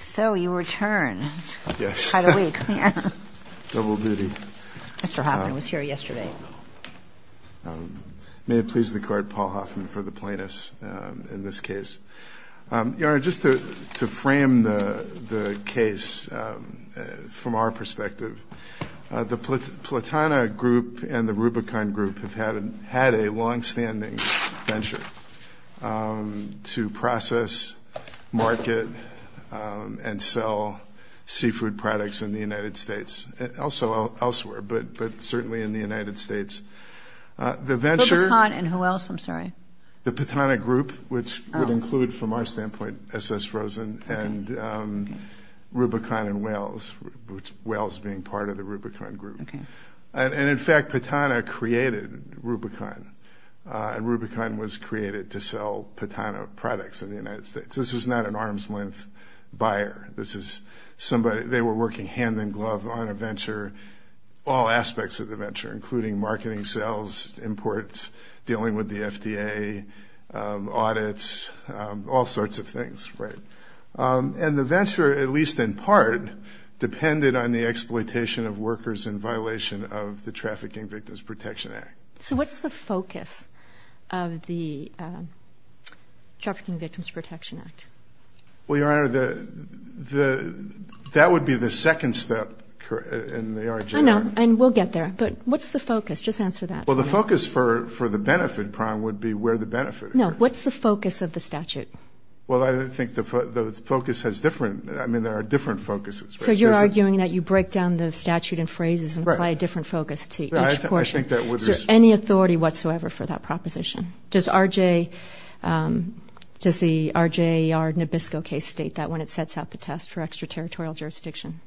So you return. Yes. Quite a week. Yes. Double duty. Mr. Hoffman was here yesterday. Oh, no. May it please the Court, Paul Hoffman for the plaintiffs in this case. Your Honor, just to frame the case from our perspective, the Platana Group and the Rubicon Group have had a long-standing venture to process, market, and sell seafood products in the United States, and also elsewhere, but certainly in the United States. The venture... Rubicon and who else? I'm sorry. The Platana Group, which would include, from our standpoint, S.S. Rosen and Rubicon and Whales, Whales being part of the Rubicon Group. Okay. And in fact, Platana created Rubicon, and Rubicon was created to sell Platana products in the United States. This was not an arm's-length buyer. This is somebody... They were working hand-in-glove on a venture, all aspects of the venture, including marketing, sales, imports, dealing with the FDA, audits, all sorts of things, right? And the venture, at least in part, depended on the exploitation of workers in violation of the Trafficking Victims Protection Act. So what's the focus of the Trafficking Victims Protection Act? Well, Your Honor, that would be the second step in the argument. I know, and we'll get there, but what's the focus? Just answer that. Well, the focus for the benefit prime would be where the benefit occurs. No, what's the focus of the statute? Well, I think the focus has different... I mean, there are different focuses. So you're arguing that you break down the statute in phrases and apply a different focus to each portion. Right. I think that would... Is there any authority whatsoever for that proposition? Does the RJR Nabisco case state that when it sets out the test for extraterritorial jurisdiction?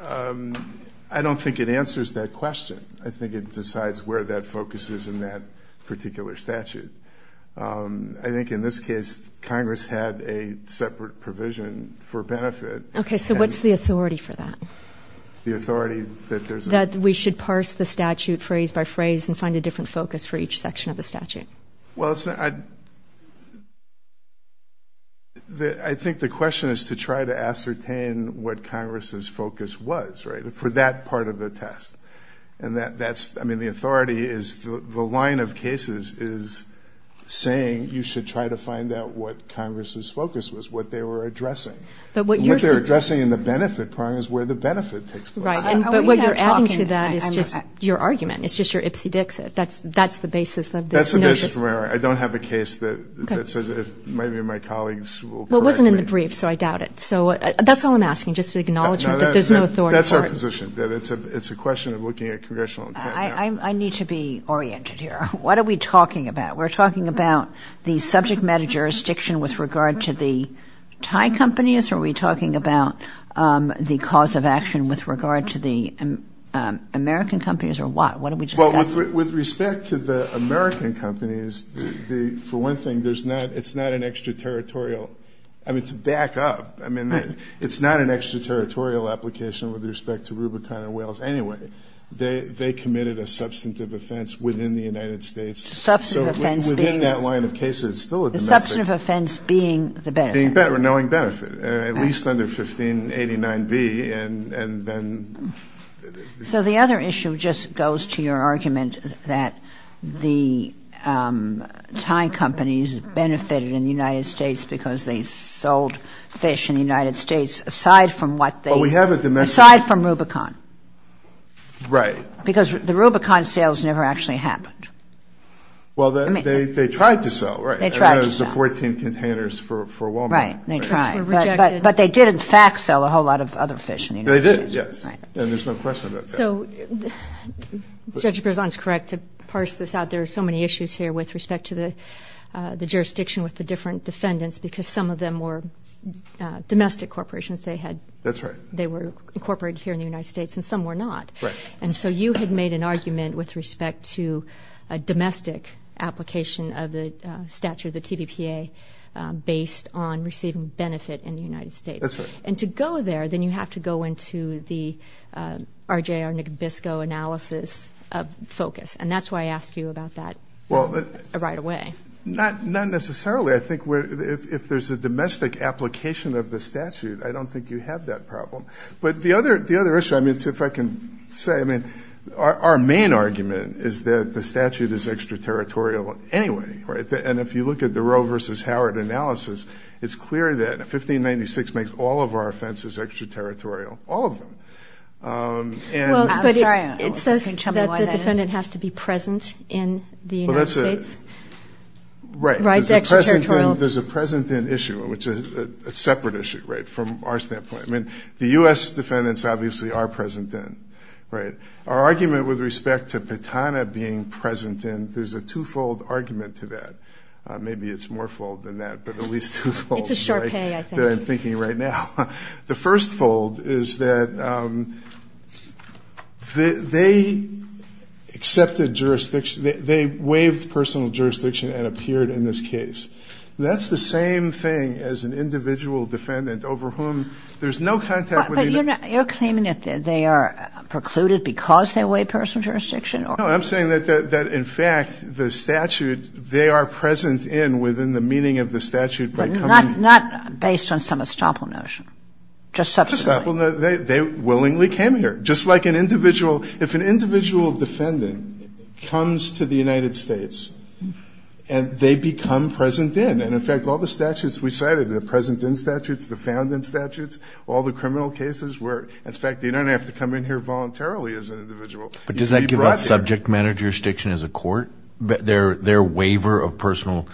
I don't think it answers that question. I think it decides where that focus is in that particular statute. I think in this case, Congress had a separate provision for benefit. Okay, so what's the authority for that? The authority that there's a... That we should parse the statute phrase by phrase and find a different focus for each section of the statute. Well, I think the question is to try to ascertain what Congress's focus was, right, for that part of the test. And that's... I mean, the authority is... The line of cases is saying you should try to find out what Congress's focus was, what they were addressing. But what you're... And what they're addressing in the benefit part is where the benefit takes place. Right. But what you're adding to that is just your argument. It's just your ipsy-dixit. That's the basis of this notion. That's the basis of my argument. I don't have a case that says if maybe my colleagues will correct me. Well, it wasn't in the brief, so I doubt it. So that's all I'm asking, just to acknowledge that there's no authority for it. That's our position. That it's a question of looking at congressional intent. I need to be oriented here. What are we talking about? We're talking about the subject matter jurisdiction with regard to the Thai companies, or are we talking about the cause of action with regard to the American companies, or what? What are we discussing? Well, with respect to the American companies, for one thing, there's not... It's not an extraterritorial... I mean, to back up, I mean, it's not an extraterritorial application with respect to Rubicon and Whales anyway. They committed a substantive offense within the United States. Substantive offense being... So within that line of cases, it's still a domestic... Substantive offense being the benefit. Knowing benefit, at least under 1589B, and then... So the other issue just goes to your argument that the Thai companies benefited in the United States because they sold fish in the United States, aside from what they... Well, we have a domestic... Aside from Rubicon. Right. Because the Rubicon sales never actually happened. Well, they tried to sell, right? They tried to sell. I mean, it was the 14 containers for Wal-Mart. They tried. Which were rejected. But they did, in fact, sell a whole lot of other fish in the United States. They did, yes. Right. And there's no question about that. So Judge Berzon's correct to parse this out. There are so many issues here with respect to the jurisdiction with the different defendants because some of them were domestic corporations. They had... Some of them were corporate here in the United States, and some were not. Right. And so you had made an argument with respect to a domestic application of the statute, the TVPA, based on receiving benefit in the United States. That's right. And to go there, then you have to go into the RJ or Nick Biscoe analysis focus. And that's why I asked you about that right away. Not necessarily. I think if there's a domestic application of the statute, I don't think you have that problem. But the other issue, I mean, if I can say, I mean, our main argument is that the statute is extraterritorial anyway, right? And if you look at the Roe versus Howard analysis, it's clear that 1596 makes all of our offenses extraterritorial. All of them. And... I'm sorry. It says that the defendant has to be present in the United States. Right. Right. It's extraterritorial. There's a present-in issue, which is a separate issue, right? From our standpoint. I mean, the U.S. defendants obviously are present-in, right? Our argument with respect to Pitana being present-in, there's a two-fold argument to that. Maybe it's more fold than that, but at least two-fold. It's a sharp pay, I think. That I'm thinking right now. The first fold is that they accepted jurisdiction. They waived personal jurisdiction and appeared in this case. That's the same thing as an individual defendant over whom there's no contact with the United States. But you're claiming that they are precluded because they waived personal jurisdiction? No, I'm saying that in fact the statute, they are present-in within the meaning of the statute by coming... But not based on some estoppel notion. Just subsequently. Just estoppel notion. They willingly came here. Just like an individual... comes to the United States. And they become present-in. And in fact, all the statutes we cited, the present-in statutes, the found-in statutes, all the criminal cases where, in fact, they don't have to come in here voluntarily as an individual. But does that give us subject matter jurisdiction as a court? Their waiver of personal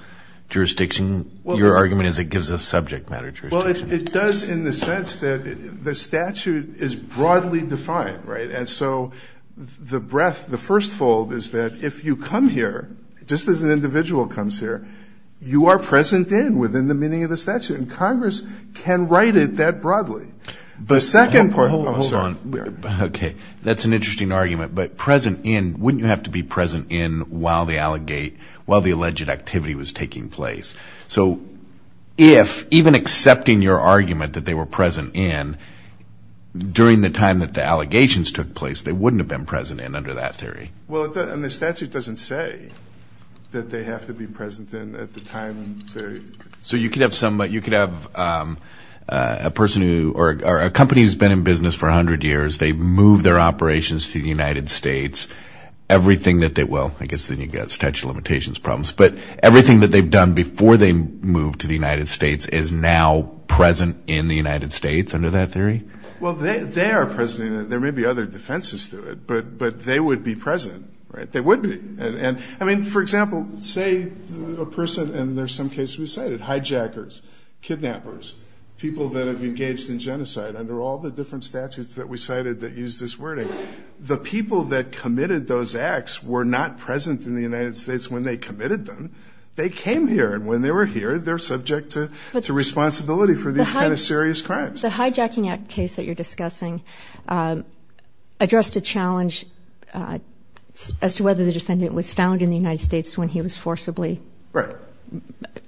jurisdiction, your argument is it gives us subject matter jurisdiction. Well, it does in the sense that the statute is broadly defined, right? And so the breadth, the first fold is that if you come here, just as an individual comes here, you are present-in within the meaning of the statute. And Congress can write it that broadly. The second part... Hold on. Okay. That's an interesting argument. But present-in, wouldn't you have to be present-in while the alleged activity was taking place? So if, even accepting your argument that they were present-in during the time that the allegations took place, they wouldn't have been present-in under that theory? Well, and the statute doesn't say that they have to be present-in at the time. So you could have a person who, or a company who's been in business for a hundred years, they've moved their operations to the United States. Everything that they... Well, I guess then you've got statute of limitations problems. But everything that they've done before they moved to the United States is now present in the United States under that theory? Well, they are present-in. There may be other defenses to it, but they would be present-in, right? They would be. And I mean, for example, say a person, and there's some cases we cited, hijackers, kidnappers, people that have engaged in genocide under all the different statutes that we cited that use this wording, the people that committed those acts were not present in the United States when they committed them. They came here. And when they were here, they're subject to responsibility for these kind of serious crimes. The Hijacking Act case that you're discussing addressed a challenge as to whether the defendant was found in the United States when he was forcibly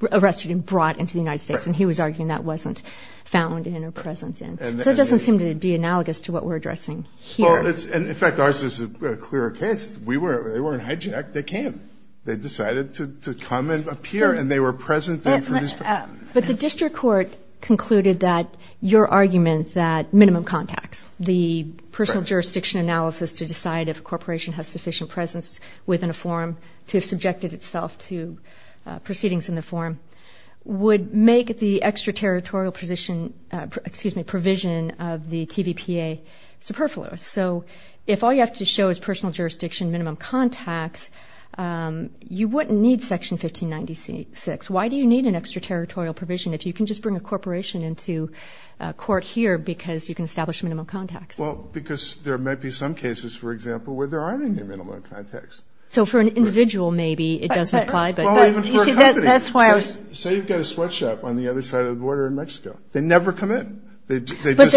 arrested and brought into the United States. And he was arguing that wasn't found-in or present-in. So it doesn't seem to be analogous to what we're addressing here. Well, it's, and in fact, ours is a clearer case. We weren't, they weren't hijacked. They came. They decided to come and appear, and they were present-in for this. But the district court concluded that your argument that minimum contacts, the personal jurisdiction analysis to decide if a corporation has sufficient presence within a forum to have subjected itself to proceedings in the forum would make the extraterritorial position, excuse me, provision of the TVPA superfluous. So if all you have to show is personal jurisdiction, minimum contacts, you wouldn't need Section 1596. Why do you need an extraterritorial provision if you can just bring a corporation into court here because you can establish minimum contacts? Well, because there might be some cases, for example, where there aren't any minimum contacts. So for an individual, maybe, it doesn't apply, but- Well, even for a company. You see, that's why I was- Say you've got a sweatshop on the other side of the border in Mexico. They never come in. They just, they give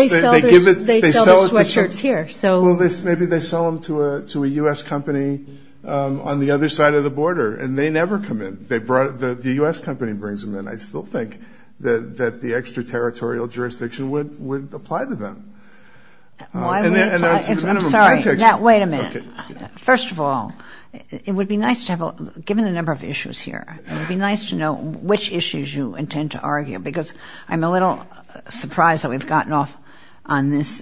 it- But they sell the sweatshirts here. So- Well, maybe they sell them to a U.S. company on the other side of the border, and they never come in. They brought, the U.S. company brings them in. I still think that the extraterritorial jurisdiction would apply to them. Why would- I'm sorry. Now, wait a minute. First of all, it would be nice to have, given the number of issues here, it would be nice to know which issues you intend to argue because I'm a little surprised that we've gotten off on this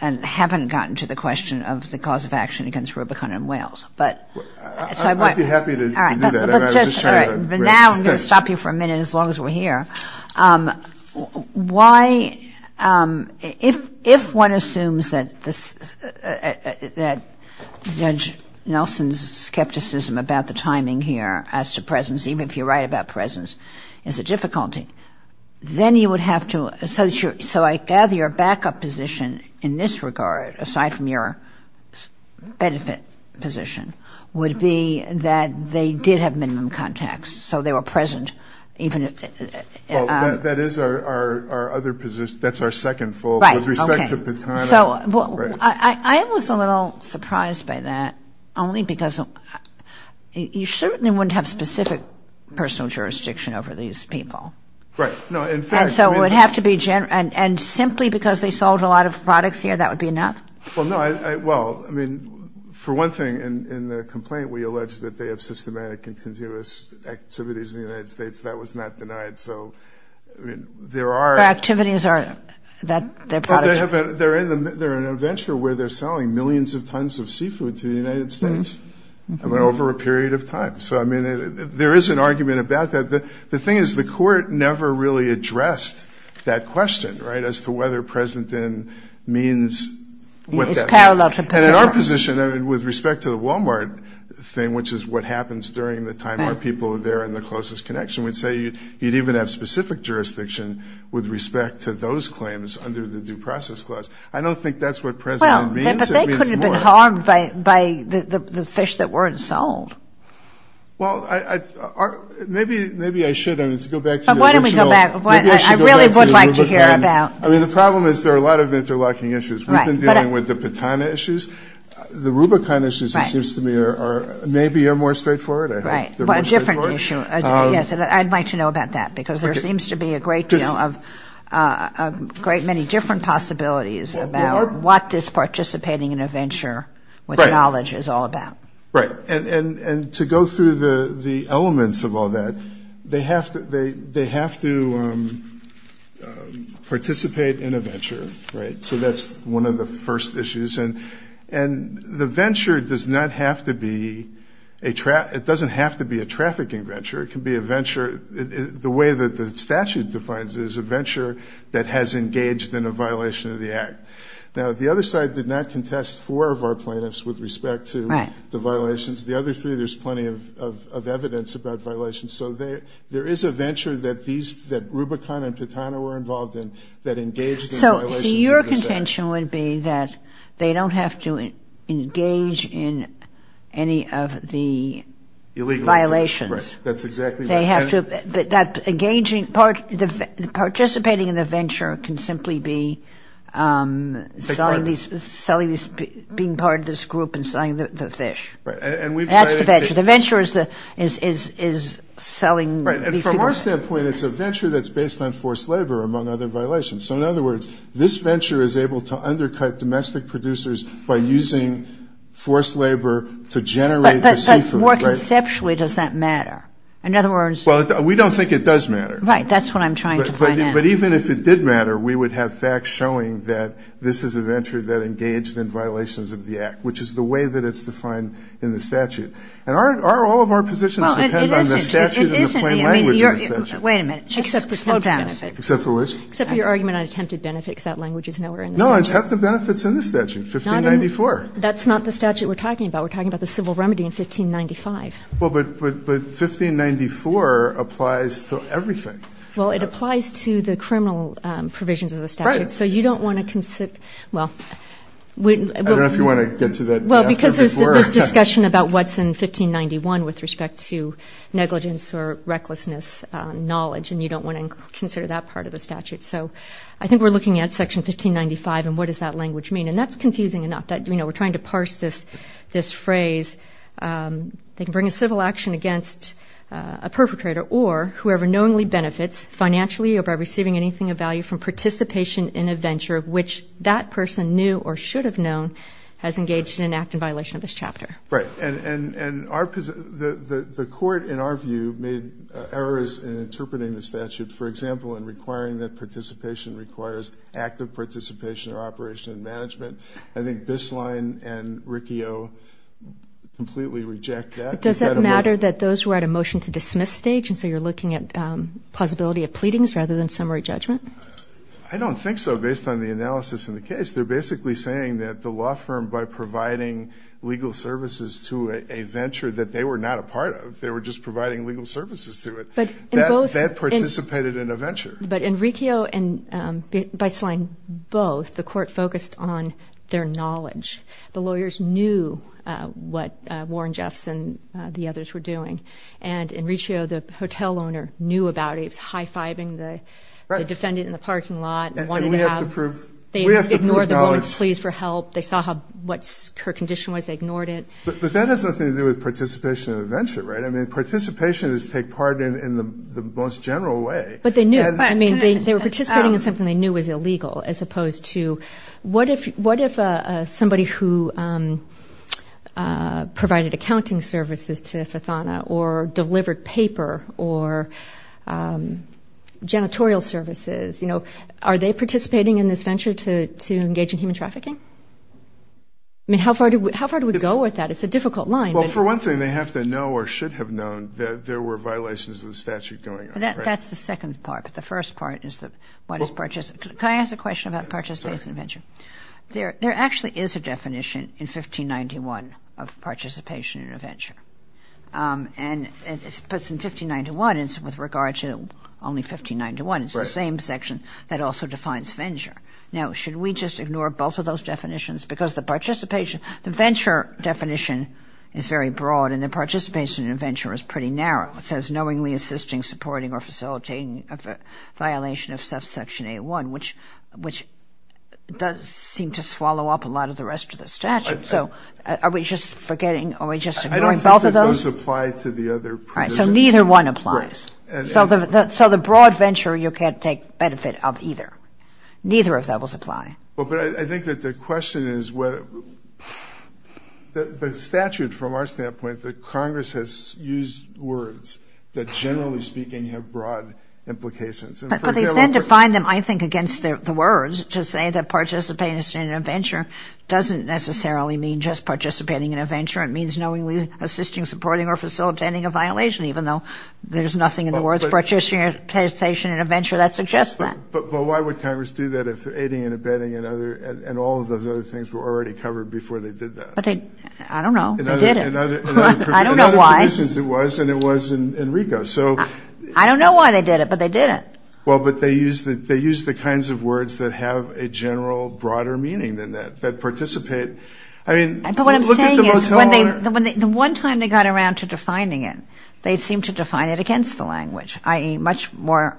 and haven't gotten to the question of the cause of action against Rubicon and Wales. But- I'd be happy to do that. But now I'm going to stop you for a minute as long as we're here. Why, if one assumes that this, that Judge Nelson's skepticism about the timing here as to presence, even if you're right about presence, is a difficulty, then you would have to- So I gather your backup position in this regard, aside from your benefit position, would be that they did have minimum contacts. So they were present, even if- That is our other position. That's our second fault. Right. Okay. With respect to Patana- I was a little surprised by that, only because you certainly wouldn't have specific personal jurisdiction over these people. Right. No, in fact- And so it would have to be, and simply because they sold a lot of products here, that would be enough? Well, no. The fact of the matter is that they have systematic and continuous activities in the United States. That was not denied. So I mean, there are- Their activities are, their products- They're in a venture where they're selling millions of tons of seafood to the United States over a period of time. So I mean, there is an argument about that. The thing is, the court never really addressed that question, right, as to whether present in means what that means. It's parallel to Patana. And in our position, I mean, with respect to the Walmart thing, which is what happens during the time our people are there in the closest connection, we'd say you'd even have specific jurisdiction with respect to those claims under the Due Process Clause. I don't think that's what present in means. It means more. Well, but they couldn't have been harmed by the fish that weren't sold. Well, maybe I should, I mean, to go back to your original- But why don't we go back? I really would like to hear about- I mean, the problem is there are a lot of interlocking issues. Right. I mean, we've been dealing with the Patana issues. The Rubicon issues, it seems to me, maybe are more straightforward. Right. But a different issue. Yes, and I'd like to know about that because there seems to be a great deal of, a great many different possibilities about what this participating in a venture with knowledge is all about. Right. Right. And to go through the elements of all that, they have to participate in a venture, right? So that's one of the first issues. And the venture does not have to be a, it doesn't have to be a trafficking venture. It can be a venture, the way that the statute defines it, is a venture that has engaged in a violation of the act. Now, the other side did not contest four of our plaintiffs with respect to the violations. The other three, there's plenty of evidence about violations. So there is a venture that Rubicon and Patana were involved in that engaged in violations Their contention would be that they don't have to engage in any of the violations. Right. That's exactly right. They have to, but that engaging part, participating in the venture can simply be selling these, selling these, being part of this group and selling the fish. Right. And we've tried. That's the venture. The venture is the, is, is, is selling. Right. And from our standpoint, it's a venture that's based on forced labor, among other violations. So in other words, this venture is able to undercut domestic producers by using forced labor to generate the seafood. But more conceptually, does that matter? In other words. Well, we don't think it does matter. Right. That's what I'm trying to find out. But even if it did matter, we would have facts showing that this is a venture that engaged in violations of the act, which is the way that it's defined in the statute. And our, all of our positions depend on the statute and the plain language of the statute. Wait a minute. Just slow down. Except for which? Except for your argument on attempted benefits. That language is nowhere in the statute. No. Attempted benefits in the statute. 1594. That's not the statute we're talking about. We're talking about the civil remedy in 1595. Well, but, but, but 1594 applies to everything. Well, it applies to the criminal provisions of the statute. Right. So you don't want to consider, well, we. I don't know if you want to get to that. Well, because there's this discussion about what's in 1591 with respect to negligence or recklessness, knowledge, and you don't want to consider that part of the statute. So I think we're looking at section 1595 and what does that language mean? And that's confusing enough that, you know, we're trying to parse this, this phrase. They can bring a civil action against a perpetrator or whoever knowingly benefits financially or by receiving anything of value from participation in a venture of which that person knew or should have known has engaged in an act in violation of this chapter. Right. And, and, and our, the, the, the court in our view made errors in interpreting the statute, for example, in requiring that participation requires active participation or operation and management. I think Bisline and Riccio completely reject that. Does that matter that those were at a motion to dismiss stage? And so you're looking at plausibility of pleadings rather than summary judgment? I don't think so. Based on the analysis in the case, they're basically saying that the law firm, by providing legal services to a venture that they were not a part of, they were just providing legal services to it, that participated in a venture. But in Riccio and Bisline, both, the court focused on their knowledge. The lawyers knew what Warren Jeffs and the others were doing. And in Riccio, the hotel owner knew about it. It was high-fiving the defendant in the parking lot and wanted to have, they ignored the woman's pleas for help. They saw how, what her condition was. They ignored it. But that has nothing to do with participation in a venture, right? I mean, participation is to take part in, in the most general way. But they knew. I mean, they were participating in something they knew was illegal as opposed to what if, what if somebody who provided accounting services to Fathana or delivered paper or janitorial services, you know, are they participating in this venture to, to engage in human trafficking? I mean, how far do we, how far do we go with that? It's a difficult line. Well, for one thing, they have to know or should have known that there were violations of the statute going on, right? That's the second part. But the first part is that what is, can I ask a question about participation in a venture? There actually is a definition in 1591 of participation in a venture. And it puts in 1591, it's with regard to only 1591, it's the same section that also defines venture. Now, should we just ignore both of those definitions? Because the participation, the venture definition is very broad and the participation in a venture is pretty narrow. It says knowingly assisting, supporting or facilitating a violation of subsection A1, which, which does seem to swallow up a lot of the rest of the statute. So are we just forgetting, are we just ignoring both of those? I don't think that those apply to the other provisions. Right, so neither one applies. Right. So the, so the broad venture you can't take benefit of either. Neither of those apply. Well, but I think that the question is whether the statute, from our standpoint, the Congress has used words that generally speaking have broad implications. But they've then defined them, I think, against the words to say that participation in a venture doesn't necessarily mean just participating in a venture. It means knowingly assisting, supporting or facilitating a violation, even though there's nothing in the words participation in a venture that suggests that. But why would Congress do that if aiding and abetting and other, and all of those other things were already covered before they did that? But they, I don't know, they did it. I don't know why. In other provisions it was, and it was in RICO, so. I don't know why they did it, but they did it. Well, but they used the, they used the kinds of words that have a general broader meaning than that, that participate. I mean, look at the motel owner. But what I'm saying is when they, the one time they got around to defining it, they seemed to define it against the language, i.e. much more.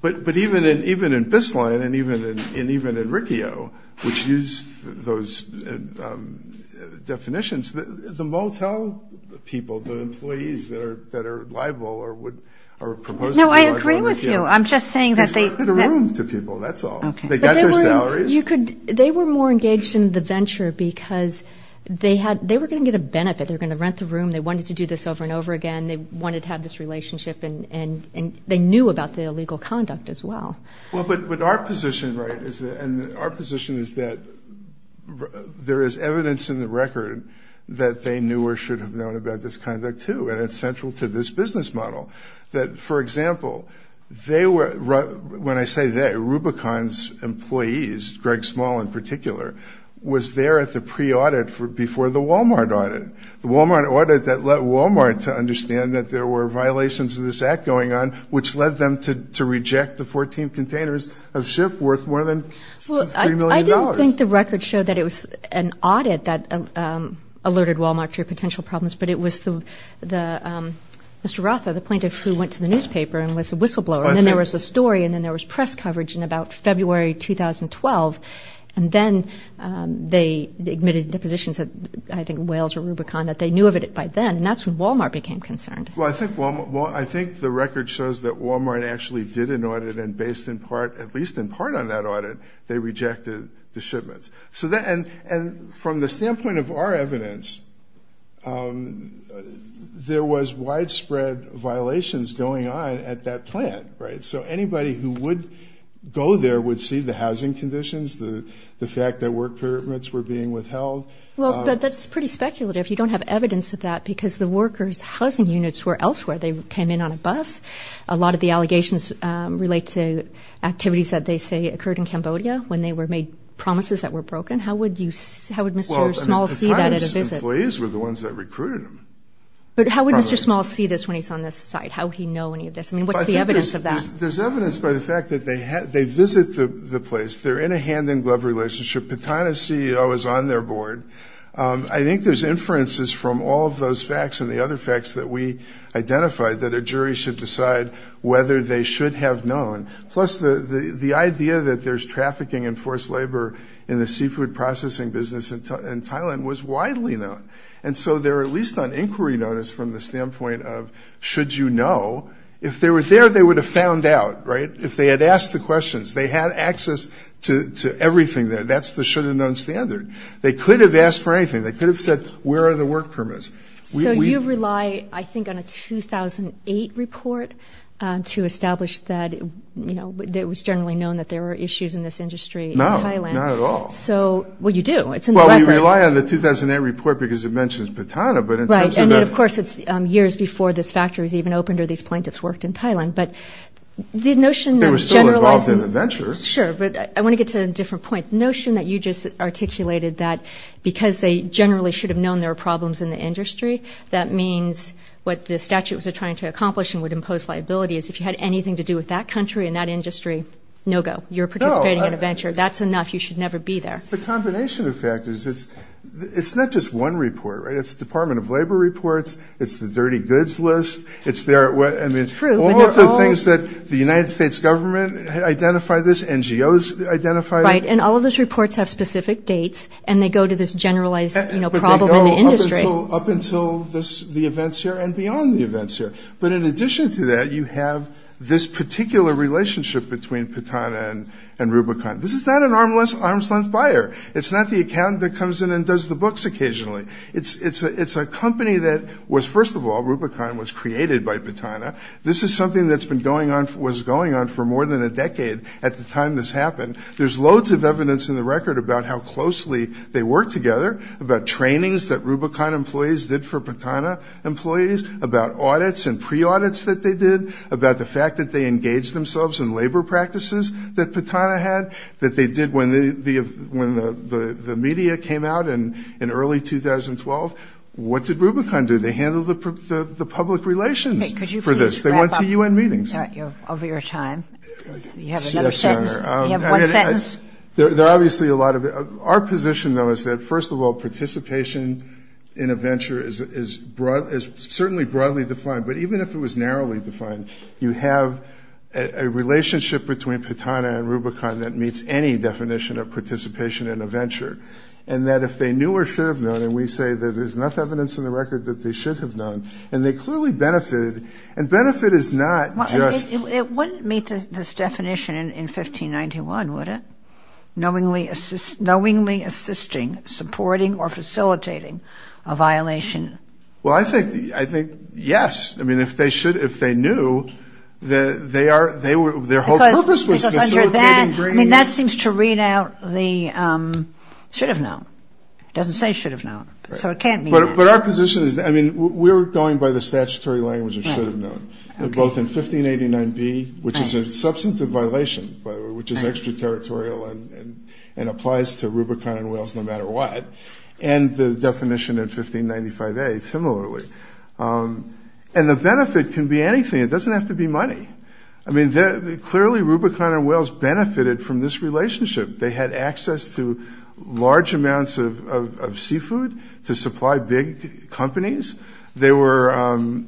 But even in, even in Bisline and even in, and even in RICO, which use those definitions, the motel people, the employees that are, that are liable or would, are proposed to be like a RICO. No, I agree with you. I'm just saying that they. Because we're in the room to people, that's all. Okay. They got their salaries. But they were, you could, they were more engaged in the venture because they had, they were going to get a benefit. They were going to rent the room. They wanted to do this over and over again. And they wanted to have this relationship and, and, and they knew about the illegal conduct as well. Well, but, but our position, right, is that, and our position is that there is evidence in the record that they knew or should have known about this conduct too, and it's central to this business model. That for example, they were, when I say they, Rubicon's employees, Greg Small in particular, was there at the pre-audit for, before the Walmart audit, the Walmart audit that let them know that there were violations of this act going on, which led them to, to reject the 14 containers of ship worth more than $3 million. Well, I don't think the record showed that it was an audit that alerted Walmart to potential problems, but it was the, the, Mr. Rothfeld, the plaintiff who went to the newspaper and was a whistleblower. And then there was a story and then there was press coverage in about February 2012. And then they admitted the positions that I think Wales or Rubicon, that they knew of it by then. And that's when Walmart became concerned. Well, I think Walmart, well, I think the record shows that Walmart actually did an audit and based in part, at least in part on that audit, they rejected the shipments. So that, and, and from the standpoint of our evidence, there was widespread violations going on at that plant, right? So anybody who would go there would see the housing conditions, the fact that work permits were being withheld. Well, that's pretty speculative. If you don't have evidence of that, because the workers housing units were elsewhere. They came in on a bus. A lot of the allegations relate to activities that they say occurred in Cambodia when they were made promises that were broken. How would you, how would Mr. Smalls see that at a visit? Employees were the ones that recruited him. But how would Mr. Smalls see this when he's on this site? How would he know any of this? I mean, what's the evidence of that? There's evidence by the fact that they had, they visit the place, they're in a hand in glove relationship. Patana's CEO is on their board. I think there's inferences from all of those facts and the other facts that we identified that a jury should decide whether they should have known. Plus the, the idea that there's trafficking and forced labor in the seafood processing business in Thailand was widely known. And so they're at least on inquiry notice from the standpoint of, should you know? If they were there, they would have found out, right? If they had asked the questions, they had access to, to everything there. That's the should have known standard. They could have asked for anything. They could have said, where are the work permits? So you rely, I think, on a 2008 report to establish that, you know, that it was generally known that there were issues in this industry in Thailand. No, not at all. So, well, you do. It's in the library. Well, we rely on the 2008 report because it mentions Patana, but in terms of the- Right. And then, of course, it's years before this factory was even opened or these plaintiffs worked in Thailand. But the notion of generalizing- They were still involved in the ventures. Sure. But I want to get to a different point. Notion that you just articulated that because they generally should have known there were problems in the industry, that means what the statute was trying to accomplish and would impose liability is if you had anything to do with that country and that industry, no go. You're participating in a venture. That's enough. You should never be there. No. It's the combination of factors. It's not just one report, right? It's the Department of Labor reports. It's the dirty goods list. It's their- True, but not all- Those identified- Right. And all of those reports have specific dates and they go to this generalized problem in the industry. But they go up until the events here and beyond the events here. But in addition to that, you have this particular relationship between Patana and Rubicon. This is not an arm's length buyer. It's not the accountant that comes in and does the books occasionally. It's a company that was, first of all, Rubicon was created by Patana. This is something that's been going on, was going on for more than a decade at the time this happened. There's loads of evidence in the record about how closely they worked together, about trainings that Rubicon employees did for Patana employees, about audits and pre-audits that they did, about the fact that they engaged themselves in labor practices that Patana had, that they did when the media came out in early 2012. They handled the public relations for this. They went to U.N. meetings. Over your time. You have another sentence? You have one sentence? There are obviously a lot of... Our position, though, is that, first of all, participation in a venture is certainly broadly defined. But even if it was narrowly defined, you have a relationship between Patana and Rubicon that meets any definition of participation in a venture. And that if they knew or should have known, and we say that there's enough evidence in And they clearly benefited. And benefit is not just... It wouldn't meet this definition in 1591, would it? Knowingly assisting, supporting, or facilitating a violation. Well, I think, yes. I mean, if they should, if they knew, they are, their whole purpose was facilitating... Because under that, I mean, that seems to read out the should have known. Doesn't say should have known. So it can't be that. But our position is... I mean, we're going by the statutory language of should have known, both in 1589b, which is a substantive violation, by the way, which is extraterritorial and applies to Rubicon and Wales no matter what, and the definition in 1595a, similarly. And the benefit can be anything. It doesn't have to be money. I mean, clearly Rubicon and Wales benefited from this relationship. They had access to large amounts of seafood to supply big companies. They were...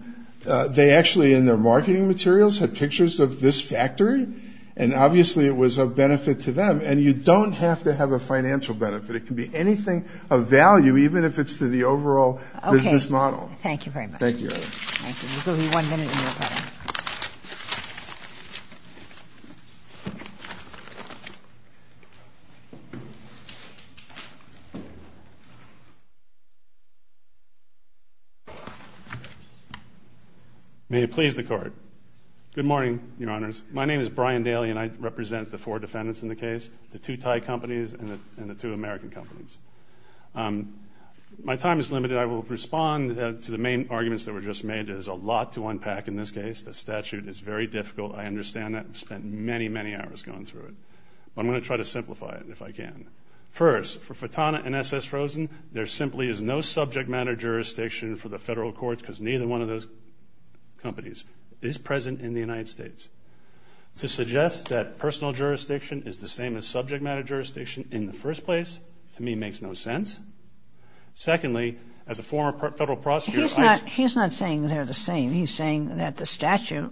They actually, in their marketing materials, had pictures of this factory. And obviously it was of benefit to them. And you don't have to have a financial benefit. It can be anything of value, even if it's to the overall business model. Thank you very much. Thank you. Thank you. Thank you. May it please the Court. Good morning, your honors. My name is Brian Daly. And I represent the four defendants in the case, the two Thai companies and the two American companies. My time is limited. I will respond to the main arguments that were just made. There's a lot to unpack in this case. The statute is very difficult. I understand that. I've spent many, many hours going through it. But I'm going to try to simplify it, if I can. First, for Fratana and S.S. Rosen, there simply is no subject matter jurisdiction for the federal courts, because neither one of those companies is present in the United States. To suggest that personal jurisdiction is the same as subject matter jurisdiction in the first place, to me, makes no sense. Secondly, as a former federal prosecutor, I... He's not saying they're the same. He's saying that the statute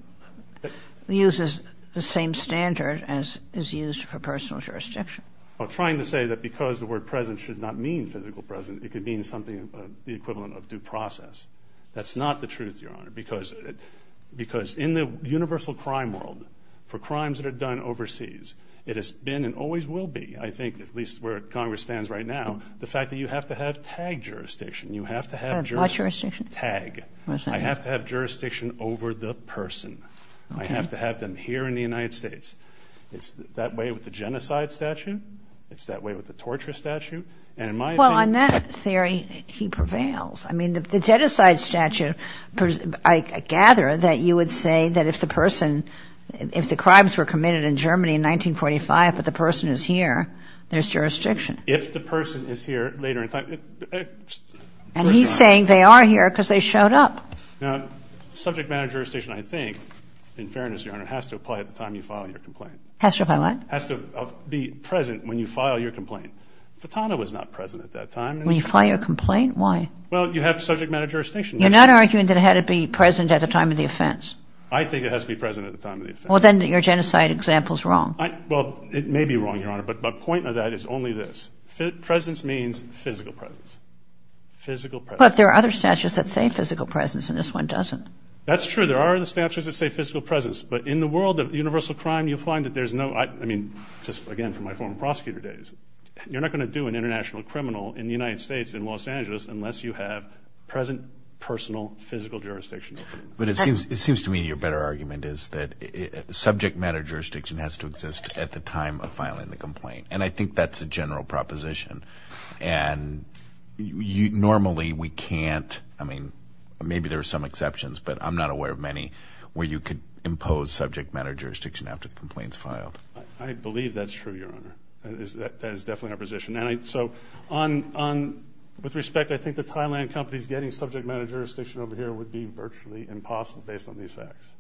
uses the same standard as is used for personal jurisdiction. Trying to say that because the word present should not mean physical present, it could mean something of the equivalent of due process. That's not the truth, your honor. Because in the universal crime world, for crimes that are done overseas, it has been and always will be, I think, at least where Congress stands right now, the fact that you have to have TAG jurisdiction. You have to have... What jurisdiction? TAG. I have to have jurisdiction over the person. I have to have them here in the United States. It's that way with the genocide statute. It's that way with the torture statute. And in my opinion... Well, on that theory, he prevails. I mean, the genocide statute, I gather that you would say that if the person, if the crimes were committed in Germany in 1945, but the person is here, there's jurisdiction. If the person is here later in time... And he's saying they are here because they showed up. Now, subject matter jurisdiction, I think, in fairness, your honor, has to apply at the time you file your complaint. Has to apply what? Has to be present when you file your complaint. Fatahna was not present at that time. When you file your complaint? Why? Well, you have subject matter jurisdiction. You're not arguing that it had to be present at the time of the offense? I think it has to be present at the time of the offense. Well, then your genocide example is wrong. Well, it may be wrong, your honor, but the point of that is only this. Presence means physical presence. Physical presence. But there are other statutes that say physical presence, and this one doesn't. That's true. There are the statutes that say physical presence, but in the world of universal crime, you find that there's no... I mean, just, again, from my former prosecutor days, you're not going to do an international criminal in the United States, in Los Angeles, unless you have present, personal, physical jurisdiction. But it seems to me your better argument is that subject matter jurisdiction has to exist at the time of filing the complaint. And I think that's a general proposition. And normally, we can't, I mean, maybe there are some exceptions, but I'm not aware of many where you could impose subject matter jurisdiction after the complaint's filed. I believe that's true, your honor. That is definitely our position. And so, with respect, I think the Thailand companies getting subject matter jurisdiction over here would be virtually impossible based on these facts.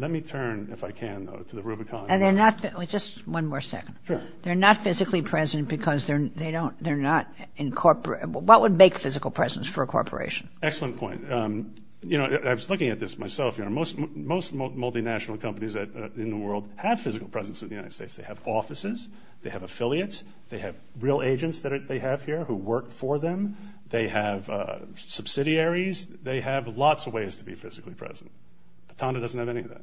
Let me turn, if I can, though, to the Rubicon. And they're not... Just one more second. Sure. They're not physically present because they don't, they're not incorpora... What would make physical presence for a corporation? Excellent point. You know, I was looking at this myself, your honor. Most multinational companies in the world have physical presence in the United States. They have offices. They have affiliates. They have real agents that they have here who work for them. They have subsidiaries. They have lots of ways to be physically present. But Thanda doesn't have any of that.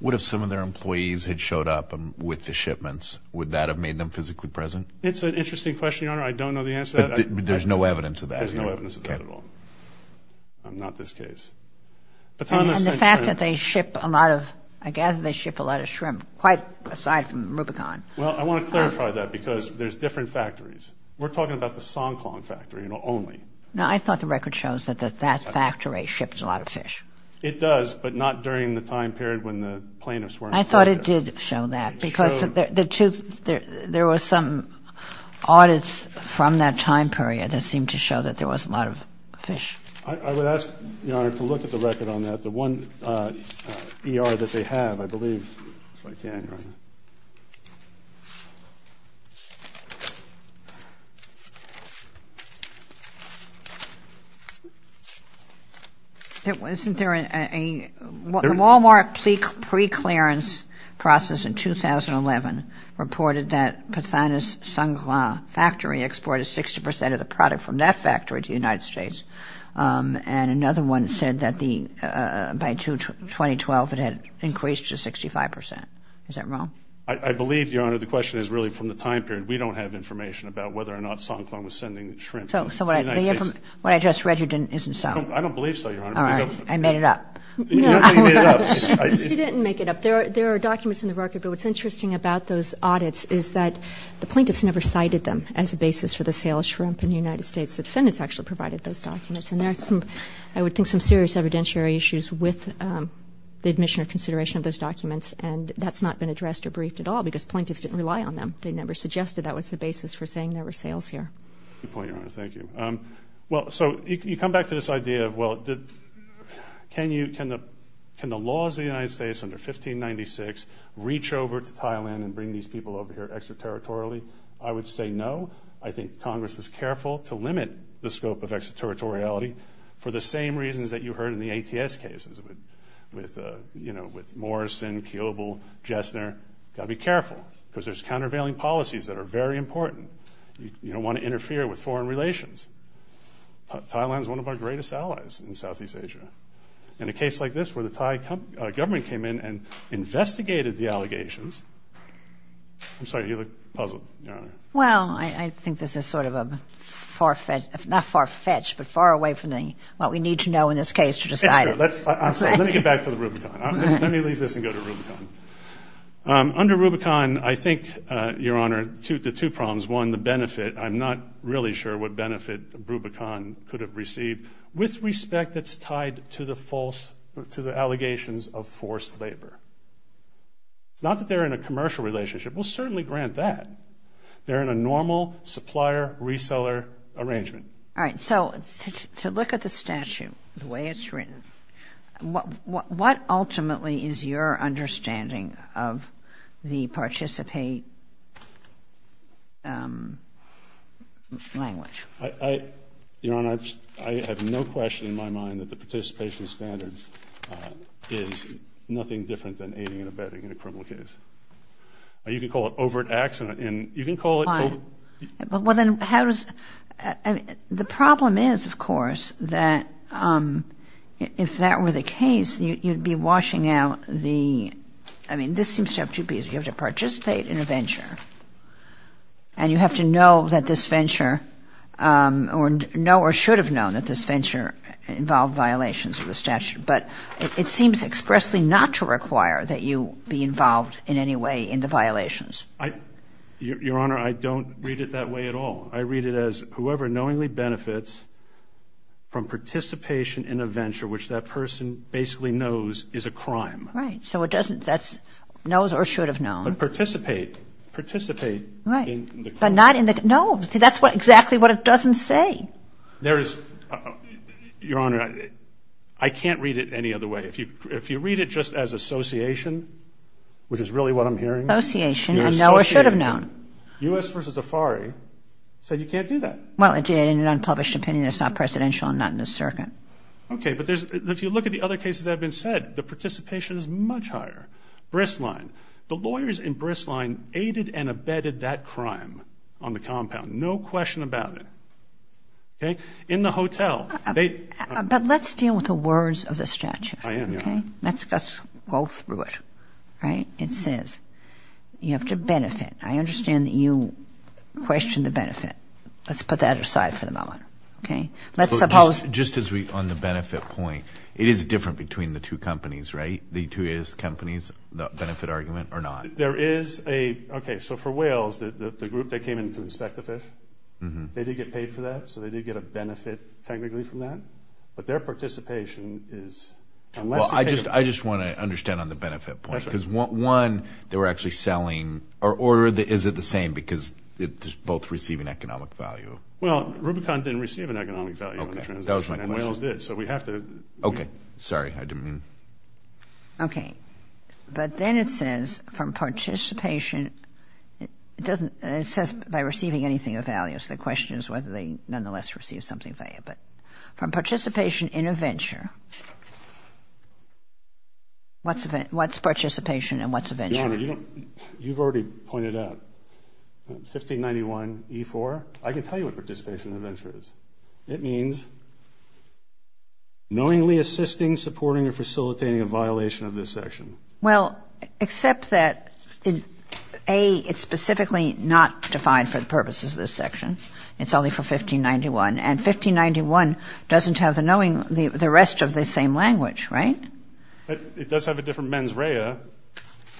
What if some of their employees had showed up with the shipments? Would that have made them physically present? It's an interesting question, your honor. I don't know the answer to that. There's no evidence of that. There's no evidence of that at all. Okay. Not this case. But Thanda... And the fact that they ship a lot of, I gather they ship a lot of shrimp, quite aside from Rubicon. Well, I want to clarify that because there's different factories. We're talking about the Songklong factory, you know, only. Now, I thought the record shows that that factory ships a lot of fish. It does, but not during the time period when the plaintiffs weren't there. I thought it did show that because there were some audits from that time period that seemed to show that there was a lot of fish. I would ask, your honor, to look at the record on that. The one ER that they have, I believe, if I can, your honor. Isn't there a... The Wal-Mart preclearance process in 2011 reported that Pathanus Songklong factory exported 60% of the product from that factory to the United States. And another one said that by 2012, it had increased to 65%. Is that wrong? I believe, your honor, the question is really from the time period. We don't have information about whether or not Songklong was sending shrimp to the United States. So what I just read you isn't so. I don't believe so, your honor. All right. I made it up. No. You don't think you made it up. She didn't make it up. There are documents in the record, but what's interesting about those audits is that the plaintiffs never cited them as a basis for the sale of shrimp in the United States. The defendants actually provided those documents, and there are some, I would think, some serious evidentiary issues with the admission or consideration of those documents, and that's not been addressed or briefed at all because plaintiffs didn't rely on them. They never suggested that was the basis for saying there were sales here. Good point, your honor. Thank you. Well, so you come back to this idea of, well, can the laws of the United States under 1596 reach over to Thailand and bring these people over here extraterritorially? I would say no. I think Congress was careful to limit the scope of extraterritoriality for the same reasons that you heard in the ATS cases with, you know, with Morrison, Kiobel, Jessner. You've got to be careful because there's countervailing policies that are very important. You don't want to interfere with foreign relations. Thailand is one of our greatest allies in Southeast Asia, and a case like this where the Thai government came in and investigated the allegations, I'm sorry, you look puzzled, your honor. Well, I think this is sort of a far-fetched, not far-fetched, but far away from what we need to know in this case to decide. It's true. I'm sorry. Let me get back to the Rubicon. Let me leave this and go to Rubicon. Under Rubicon, I think, your honor, the two problems, one, the benefit, I'm not really sure what benefit Rubicon could have received with respect that's tied to the false, to the allegations of forced labor. It's not that they're in a commercial relationship. We'll certainly grant that. They're in a normal supplier-reseller arrangement. All right. So, to look at the statute, the way it's written, what ultimately is your understanding of the participate language? I, your honor, I have no question in my mind that the participation standard is nothing different than aiding and abetting in a criminal case. You can call it overt accident, and you can call it over... Well, then, how does... The problem is, of course, that if that were the case, you'd be washing out the, I mean, this seems to have two pieces. You have to participate in a venture, and you have to know that this venture, or know or should have known that this venture involved violations of the statute, but it seems expressly not to require that you be involved in any way in the violations. I, your honor, I don't read it that way at all. I read it as whoever knowingly benefits from participation in a venture, which that person basically knows is a crime. So, it doesn't... That's knows or should have known. But participate. Participate. Right. In the crime. But not in the... No. See, that's exactly what it doesn't say. There is... Your honor, I can't read it any other way. If you read it just as association, which is really what I'm hearing... Know or should have known. U.S. v. Zafari said you can't do that. Well, it did in an unpublished opinion. It's not presidential and not in the circuit. Okay, but if you look at the other cases that have been said, the participation is much higher. Bristline. The lawyers in Bristline aided and abetted that crime on the compound. No question about it. Okay? In the hotel. They... But let's deal with the words of the statute. I am, your honor. Okay? Let's go through it. Right? It says you have to benefit. I understand that you question the benefit. Let's put that aside for the moment. Okay? Let's suppose... Just as we... On the benefit point, it is different between the two companies, right? The two A.S. companies, the benefit argument or not? There is a... Okay. So for Wales, the group that came in to inspect the fish, they did get paid for that. So they did get a benefit technically from that. But their participation is... Unless they paid... Well, I just... I just want to understand on the benefit point. Because, one, they were actually selling... Or is it the same because they both receive an economic value? Well, Rubicon didn't receive an economic value on the transaction and Wales did, so we have to... Okay. Sorry. I didn't mean... Okay. But then it says, from participation, it doesn't... something of value. From participation in a venture... What's participation and what's a venture? Your Honor, you don't... You've already pointed out. 1591E4, I can tell you what participation in a venture is. It means knowingly assisting, supporting, or facilitating a violation of this section. Well, except that, A, it's specifically not defined for the purposes of this section. It's only for 1591. And 1591 doesn't have the knowing... The rest of the same language, right? It does have a different mens rea,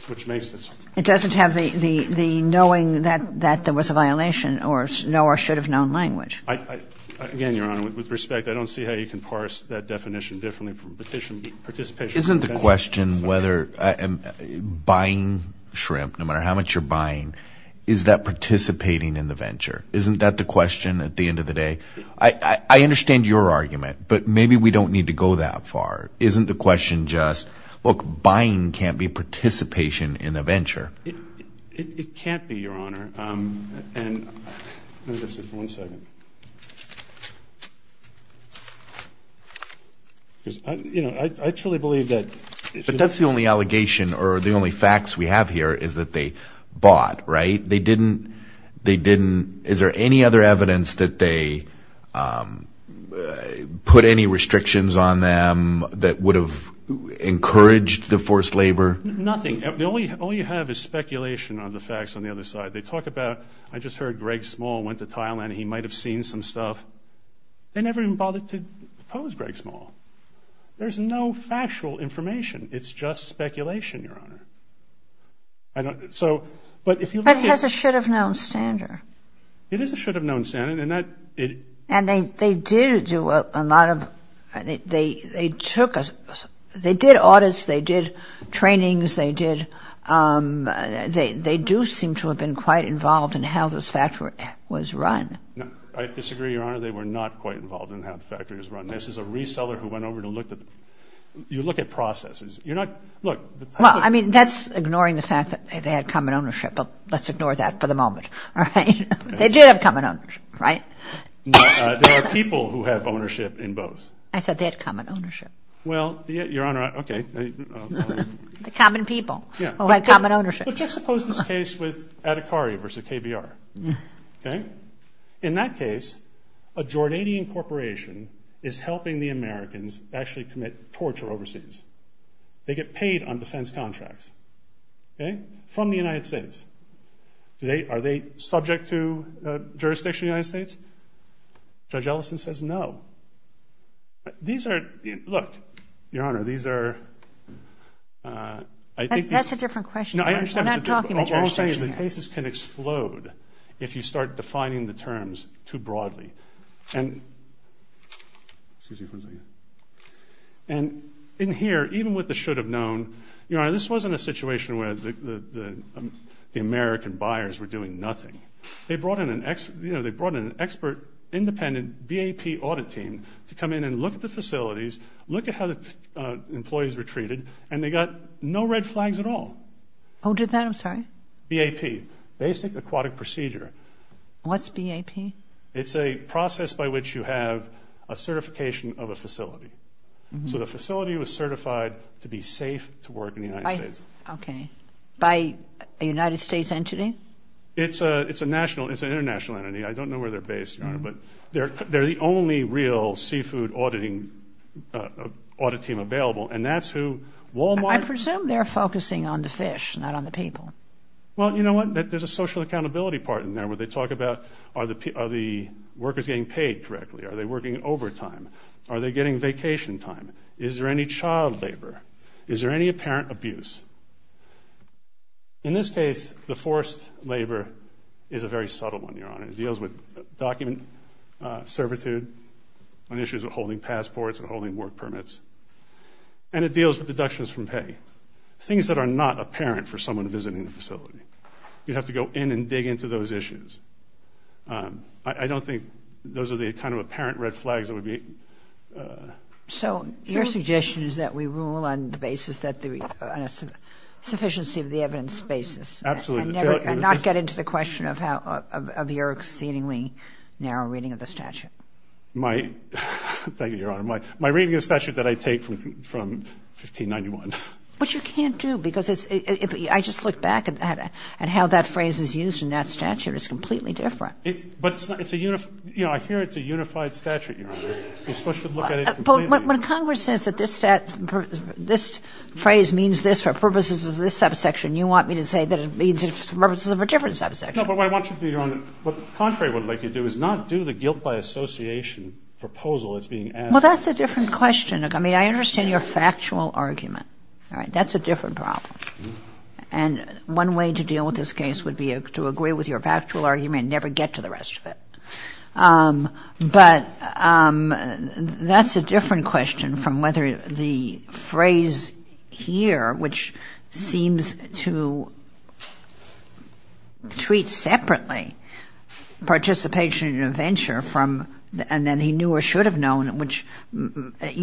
which makes it... It doesn't have the knowing that there was a violation or know or should have known language. Again, Your Honor, with respect, I don't see how you can parse that definition differently from participation... Isn't the question whether buying shrimp, no matter how much you're buying, is that participating in the venture? Isn't that the question at the end of the day? I understand your argument, but maybe we don't need to go that far. Isn't the question just... Look, buying can't be participation in a venture. It can't be, Your Honor. And... Let me just see for one second. Because, you know, I truly believe that... But that's the only allegation or the only facts we have here is that they bought, right? They didn't... They didn't... Is there any other evidence that they put any restrictions on them that would have encouraged the forced labor? Nothing. All you have is speculation on the facts on the other side. They talk about, I just heard Greg Small went to Thailand. He might have seen some stuff. They never even bothered to pose Greg Small. There's no factual information. It's just speculation, Your Honor. I don't... But it has a should-have-known standard. It is a should-have-known standard, and that... And they did do a lot of... They took... They did audits. They did trainings. They did... They do seem to have been quite involved in how this factory was run. No, I disagree, Your Honor. They were not quite involved in how the factory was run. This is a reseller who went over to look at... You look at processes. You're not... Look... Well, I mean, that's ignoring the fact that they had common ownership, but let's ignore that for the moment, all right? They did have common ownership, right? No, there are people who have ownership in both. I said they had common ownership. Well, Your Honor, okay. The common people who had common ownership. But just suppose this case with Adhikari versus KBR, okay? In that case, a Jordanian corporation is helping the Americans actually commit torture overseas. They get paid on defense contracts, okay, from the United States. Are they subject to jurisdiction of the United States? Judge Ellison says no. These are... Look, Your Honor, these are... That's a different question. I'm not talking about jurisdiction. All I'm saying is the cases can explode if you start defining the terms too broadly. And... Excuse me for a second. And in here, even with the should have known, Your Honor, this wasn't a situation where the American buyers were doing nothing. They brought in an expert independent BAP audit team to come in and look at the facilities, look at how the employees were treated, and they got no red flags at all. Who did that? I'm sorry. BAP, Basic Aquatic Procedure. What's BAP? It's a process by which you have a certification of a facility. So the facility was certified to be safe to work in the United States. Okay. By a United States entity? It's a national. It's an international entity. I don't know where they're based, Your Honor, but they're the only real seafood auditing audit team available, and that's who Walmart... I presume they're focusing on the fish, not on the people. Well, you know what? There's a social accountability part in there where they talk about are the workers getting paid correctly? Are they working overtime? Are they getting vacation time? Is there any child labor? Is there any apparent abuse? In this case, the forced labor is a very subtle one, Your Honor. It deals with document servitude on issues of holding passports and holding work permits, and it deals with deductions from pay, things that are not apparent for someone visiting the facility. You'd have to go in and dig into those issues. I don't think those are the kind of apparent red flags that would be... So your suggestion is that we rule on the basis that there is a sufficiency of the evidence basis. Absolutely. And not get into the question of your exceedingly narrow reading of the statute. Thank you, Your Honor. My reading of the statute that I take from 1591. But you can't do, because it's... I just look back at how that phrase is used in that statute. It's completely different. But it's a unified... I hear it's a unified statute, Your Honor. You're supposed to look at it completely... But when Congress says that this phrase means this for purposes of this subsection, you want me to say that it means it's for purposes of a different subsection. No, but what I want you to do, Your Honor, what Contrary would like you to do is not do the guilt by association proposal that's being asked. Well, that's a different question. I mean, I understand your factual argument. That's a different problem. And one way to deal with this case would be to agree with your factual argument and never get to the rest of it. But that's a different question from whether the phrase here, which seems to treat separately participation in an adventure from... You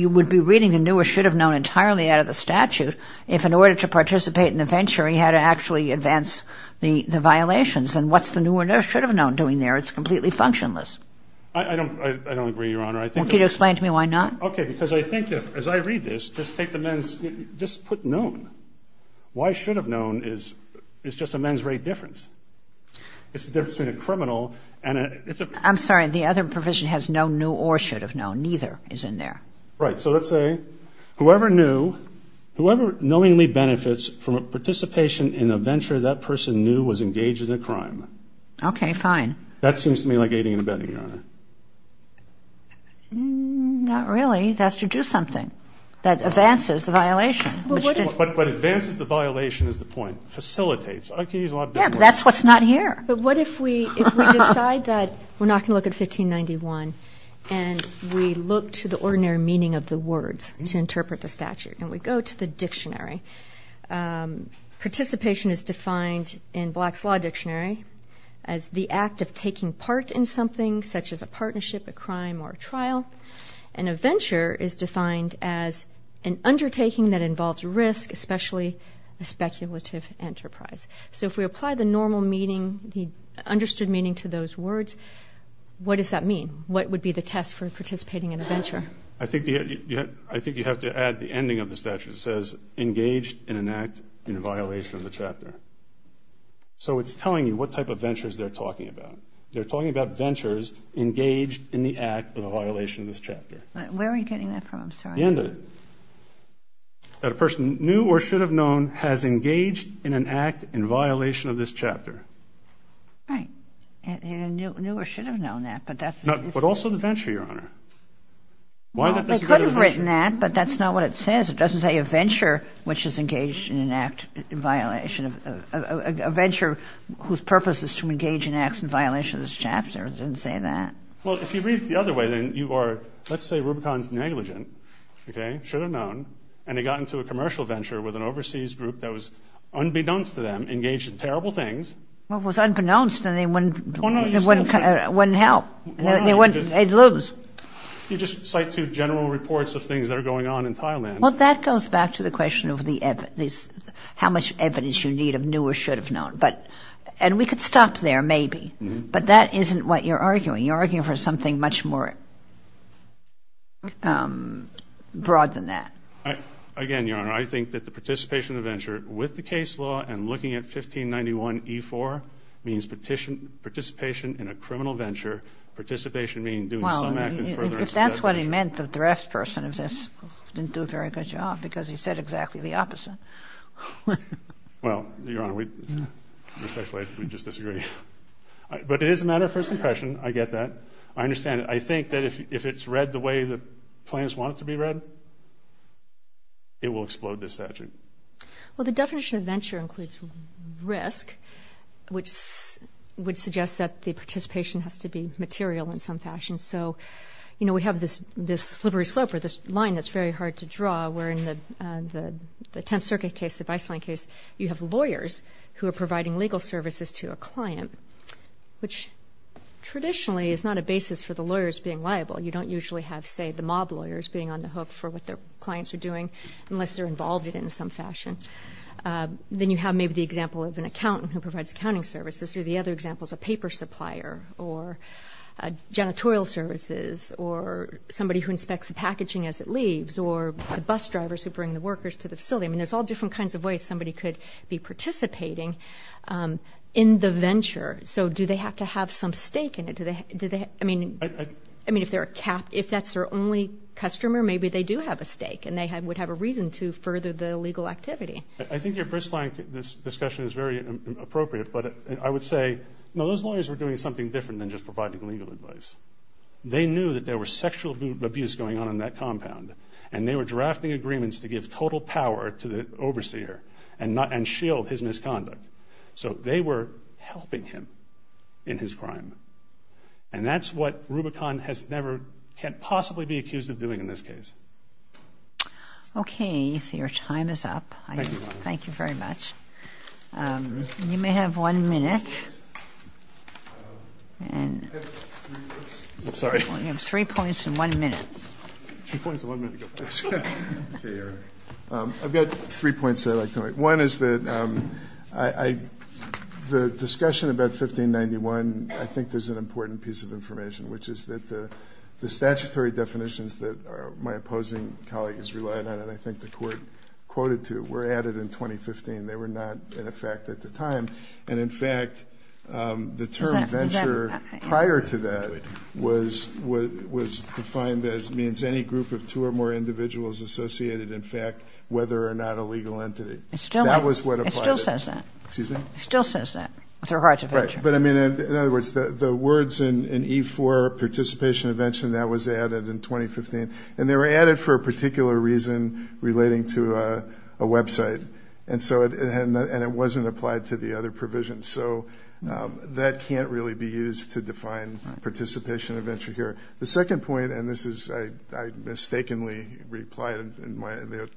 would be reading the new or should have known entirely out of the statute if, in order to participate in the venture, you had to actually advance the violations. And what's the new or should have known doing there? It's completely functionless. I don't agree, Your Honor. Can you explain to me why not? Okay, because I think, as I read this, just take the men's... Just put known. Why should have known is just a men's rate difference. It's the difference between a criminal and a... I'm sorry. The other provision has no new or should have known. Neither is in there. Right. So let's say whoever knew, whoever knowingly benefits from a participation in a venture that person knew was engaged in a crime. Okay, fine. That seems to me like aiding and abetting, Your Honor. Not really. That's to do something. That advances the violation. But advances the violation is the point. Facilitates. I could use a lot better words. Yeah, but that's what's not here. But what if we decide that we're not going to look at 1591, and we look to the ordinary meaning of the words to interpret the statute, and we go to the dictionary. Participation is defined in Black's Law Dictionary as the act of taking part in something, such as a partnership, a crime, or a trial. And a venture is defined as an undertaking that involves risk, especially a speculative enterprise. So if we apply the normal meaning, the understood meaning to those words, what does that mean? What would be the test for participating in a venture? I think you have to add the ending of the statute. It says engaged in an act in violation of the chapter. So it's telling you what type of ventures they're talking about. They're talking about ventures engaged in the act of a violation of this chapter. Where are you getting that from? I'm sorry. The end of it. That a person knew or should have known has engaged in an act in violation of this chapter. Right. Knew or should have known that, but that's the case. But also the venture, Your Honor. Well, they could have written that, but that's not what it says. It doesn't say a venture which is engaged in an act in violation of – a venture whose purpose is to engage in acts in violation of this chapter. It doesn't say that. Well, if you read it the other way, then you are – let's say Rubicon's negligent. Okay? Should have known, and they got into a commercial venture with an overseas group that was unbeknownst to them, engaged in terrible things. Well, it was unbeknownst, and they wouldn't help. They'd lose. You just cite two general reports of things that are going on in Thailand. Well, that goes back to the question of the – how much evidence you need of knew or should have known. And we could stop there, maybe. But that isn't what you're arguing. You're arguing for something much more broad than that. Again, Your Honor, I think that the participation of the venture with the case law and looking at 1591E4 means participation in a criminal venture, participation meaning doing some act in furtherance of that venture. Well, if that's what he meant, the draftsperson didn't do a very good job because he said exactly the opposite. Well, Your Honor, respectfully, we just disagree. But it is a matter of first impression. I get that. I understand it. I think that if it's read the way the plaintiffs want it to be read, it will explode this statute. Well, the definition of venture includes risk, which would suggest that the participation has to be material in some fashion. So, you know, we have this slippery slope or this line that's very hard to draw where in the Tenth Circuit case, the Viceland case, you have lawyers who are providing legal services to a client, which traditionally is not a basis for the lawyers being liable. You don't usually have, say, the mob lawyers being on the hook for what their clients are doing unless they're involved in it in some fashion. Then you have maybe the example of an accountant who provides accounting services or the other example is a paper supplier or janitorial services or somebody who inspects the packaging as it leaves or the bus drivers who bring the workers to the facility. I mean, there's all different kinds of ways somebody could be participating in the venture. So do they have to have some stake in it? I mean, if that's their only customer, maybe they do have a stake and they would have a reason to further the legal activity. I think your bristling discussion is very appropriate, but I would say, you know, those lawyers were doing something different than just providing legal advice. They knew that there was sexual abuse going on in that compound, and they were drafting agreements to give total power to the overseer and shield his misconduct. So they were helping him in his crime, and that's what Rubicon can't possibly be accused of doing in this case. Okay, so your time is up. Thank you, Your Honor. Thank you very much. You may have one minute. I'm sorry. You have three points and one minute. I've got three points that I'd like to make. One is that the discussion about 1591, I think there's an important piece of information, which is that the statutory definitions that my opposing colleague is relying on and I think the Court quoted to were added in 2015. They were not in effect at the time. And, in fact, the term venture prior to that was defined as means any group of two or more individuals associated, in fact, whether or not a legal entity. That was what applied. It still says that. Excuse me? It still says that with regards to venture. Right. But, I mean, in other words, the words in E-4, participation, invention, that was added in 2015, and they were added for a particular reason relating to a website. And so it wasn't applied to the other provisions. So that can't really be used to define participation and venture here. The second point, and this is I mistakenly replied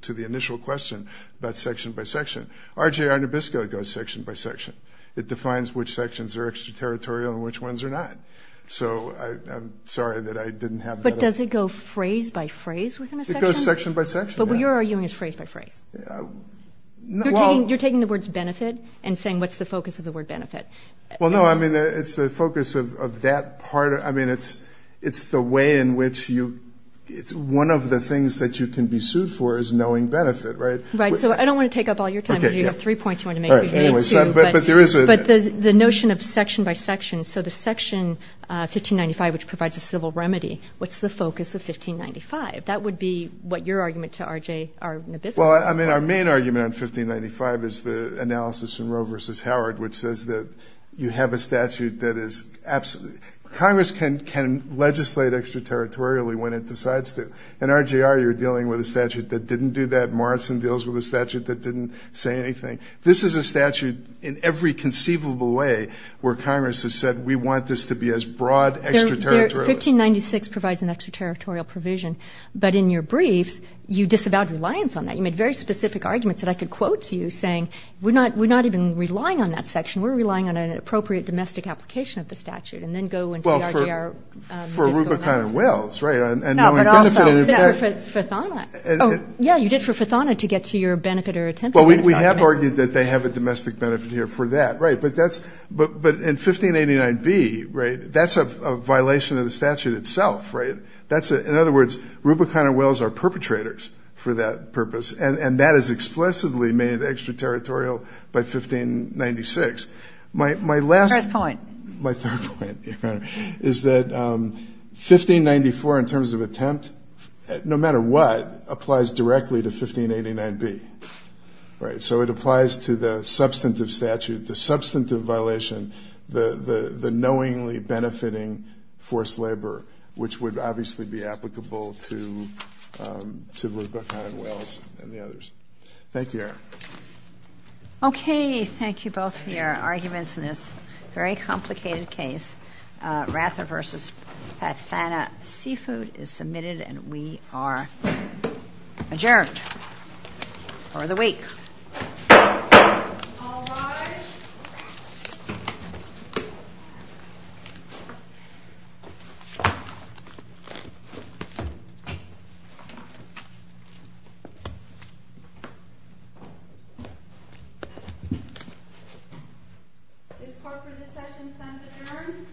to the initial question about section by section. RJR Nabisco goes section by section. It defines which sections are extraterritorial and which ones are not. So I'm sorry that I didn't have that up. But does it go phrase by phrase within a section? But what you're arguing is phrase by phrase. You're taking the words benefit and saying what's the focus of the word benefit. Well, no, I mean, it's the focus of that part. I mean, it's the way in which you one of the things that you can be sued for is knowing benefit, right? Right. So I don't want to take up all your time. You have three points you want to make. But the notion of section by section, so the section 1595, which provides a civil remedy, what's the focus of 1595? That would be what your argument to RJR Nabisco is. Well, I mean, our main argument on 1595 is the analysis in Roe v. Howard, which says that you have a statute that is absolutely – Congress can legislate extraterritorially when it decides to. In RJR, you're dealing with a statute that didn't do that. Morrison deals with a statute that didn't say anything. This is a statute in every conceivable way where Congress has said we want this to be as broad extraterritorially. 1596 provides an extraterritorial provision. But in your briefs, you disavowed reliance on that. You made very specific arguments that I could quote to you saying we're not even relying on that section. We're relying on an appropriate domestic application of the statute, and then go into the RJR Nabisco analysis. Well, for Arubicon and Wells, right, and knowing benefit. No, but also for Fathana. Oh, yeah, you did for Fathana to get to your benefit or attempted benefit argument. Well, we have argued that they have a domestic benefit here for that, right. But in 1589B, right, that's a violation of the statute itself, right? In other words, Arubicon and Wells are perpetrators for that purpose, and that is explicitly made extraterritorial by 1596. My last – Third point. My third point, Your Honor, is that 1594 in terms of attempt, no matter what, applies directly to 1589B, right? So it applies to the substantive statute. The substantive violation, the knowingly benefiting forced labor, which would obviously be applicable to Arubicon and Wells and the others. Thank you, Your Honor. Okay. Thank you both for your arguments in this very complicated case. Ratha v. Fathana Seafood is submitted, and we are adjourned for the week. All rise. This court for this session sends adjourned.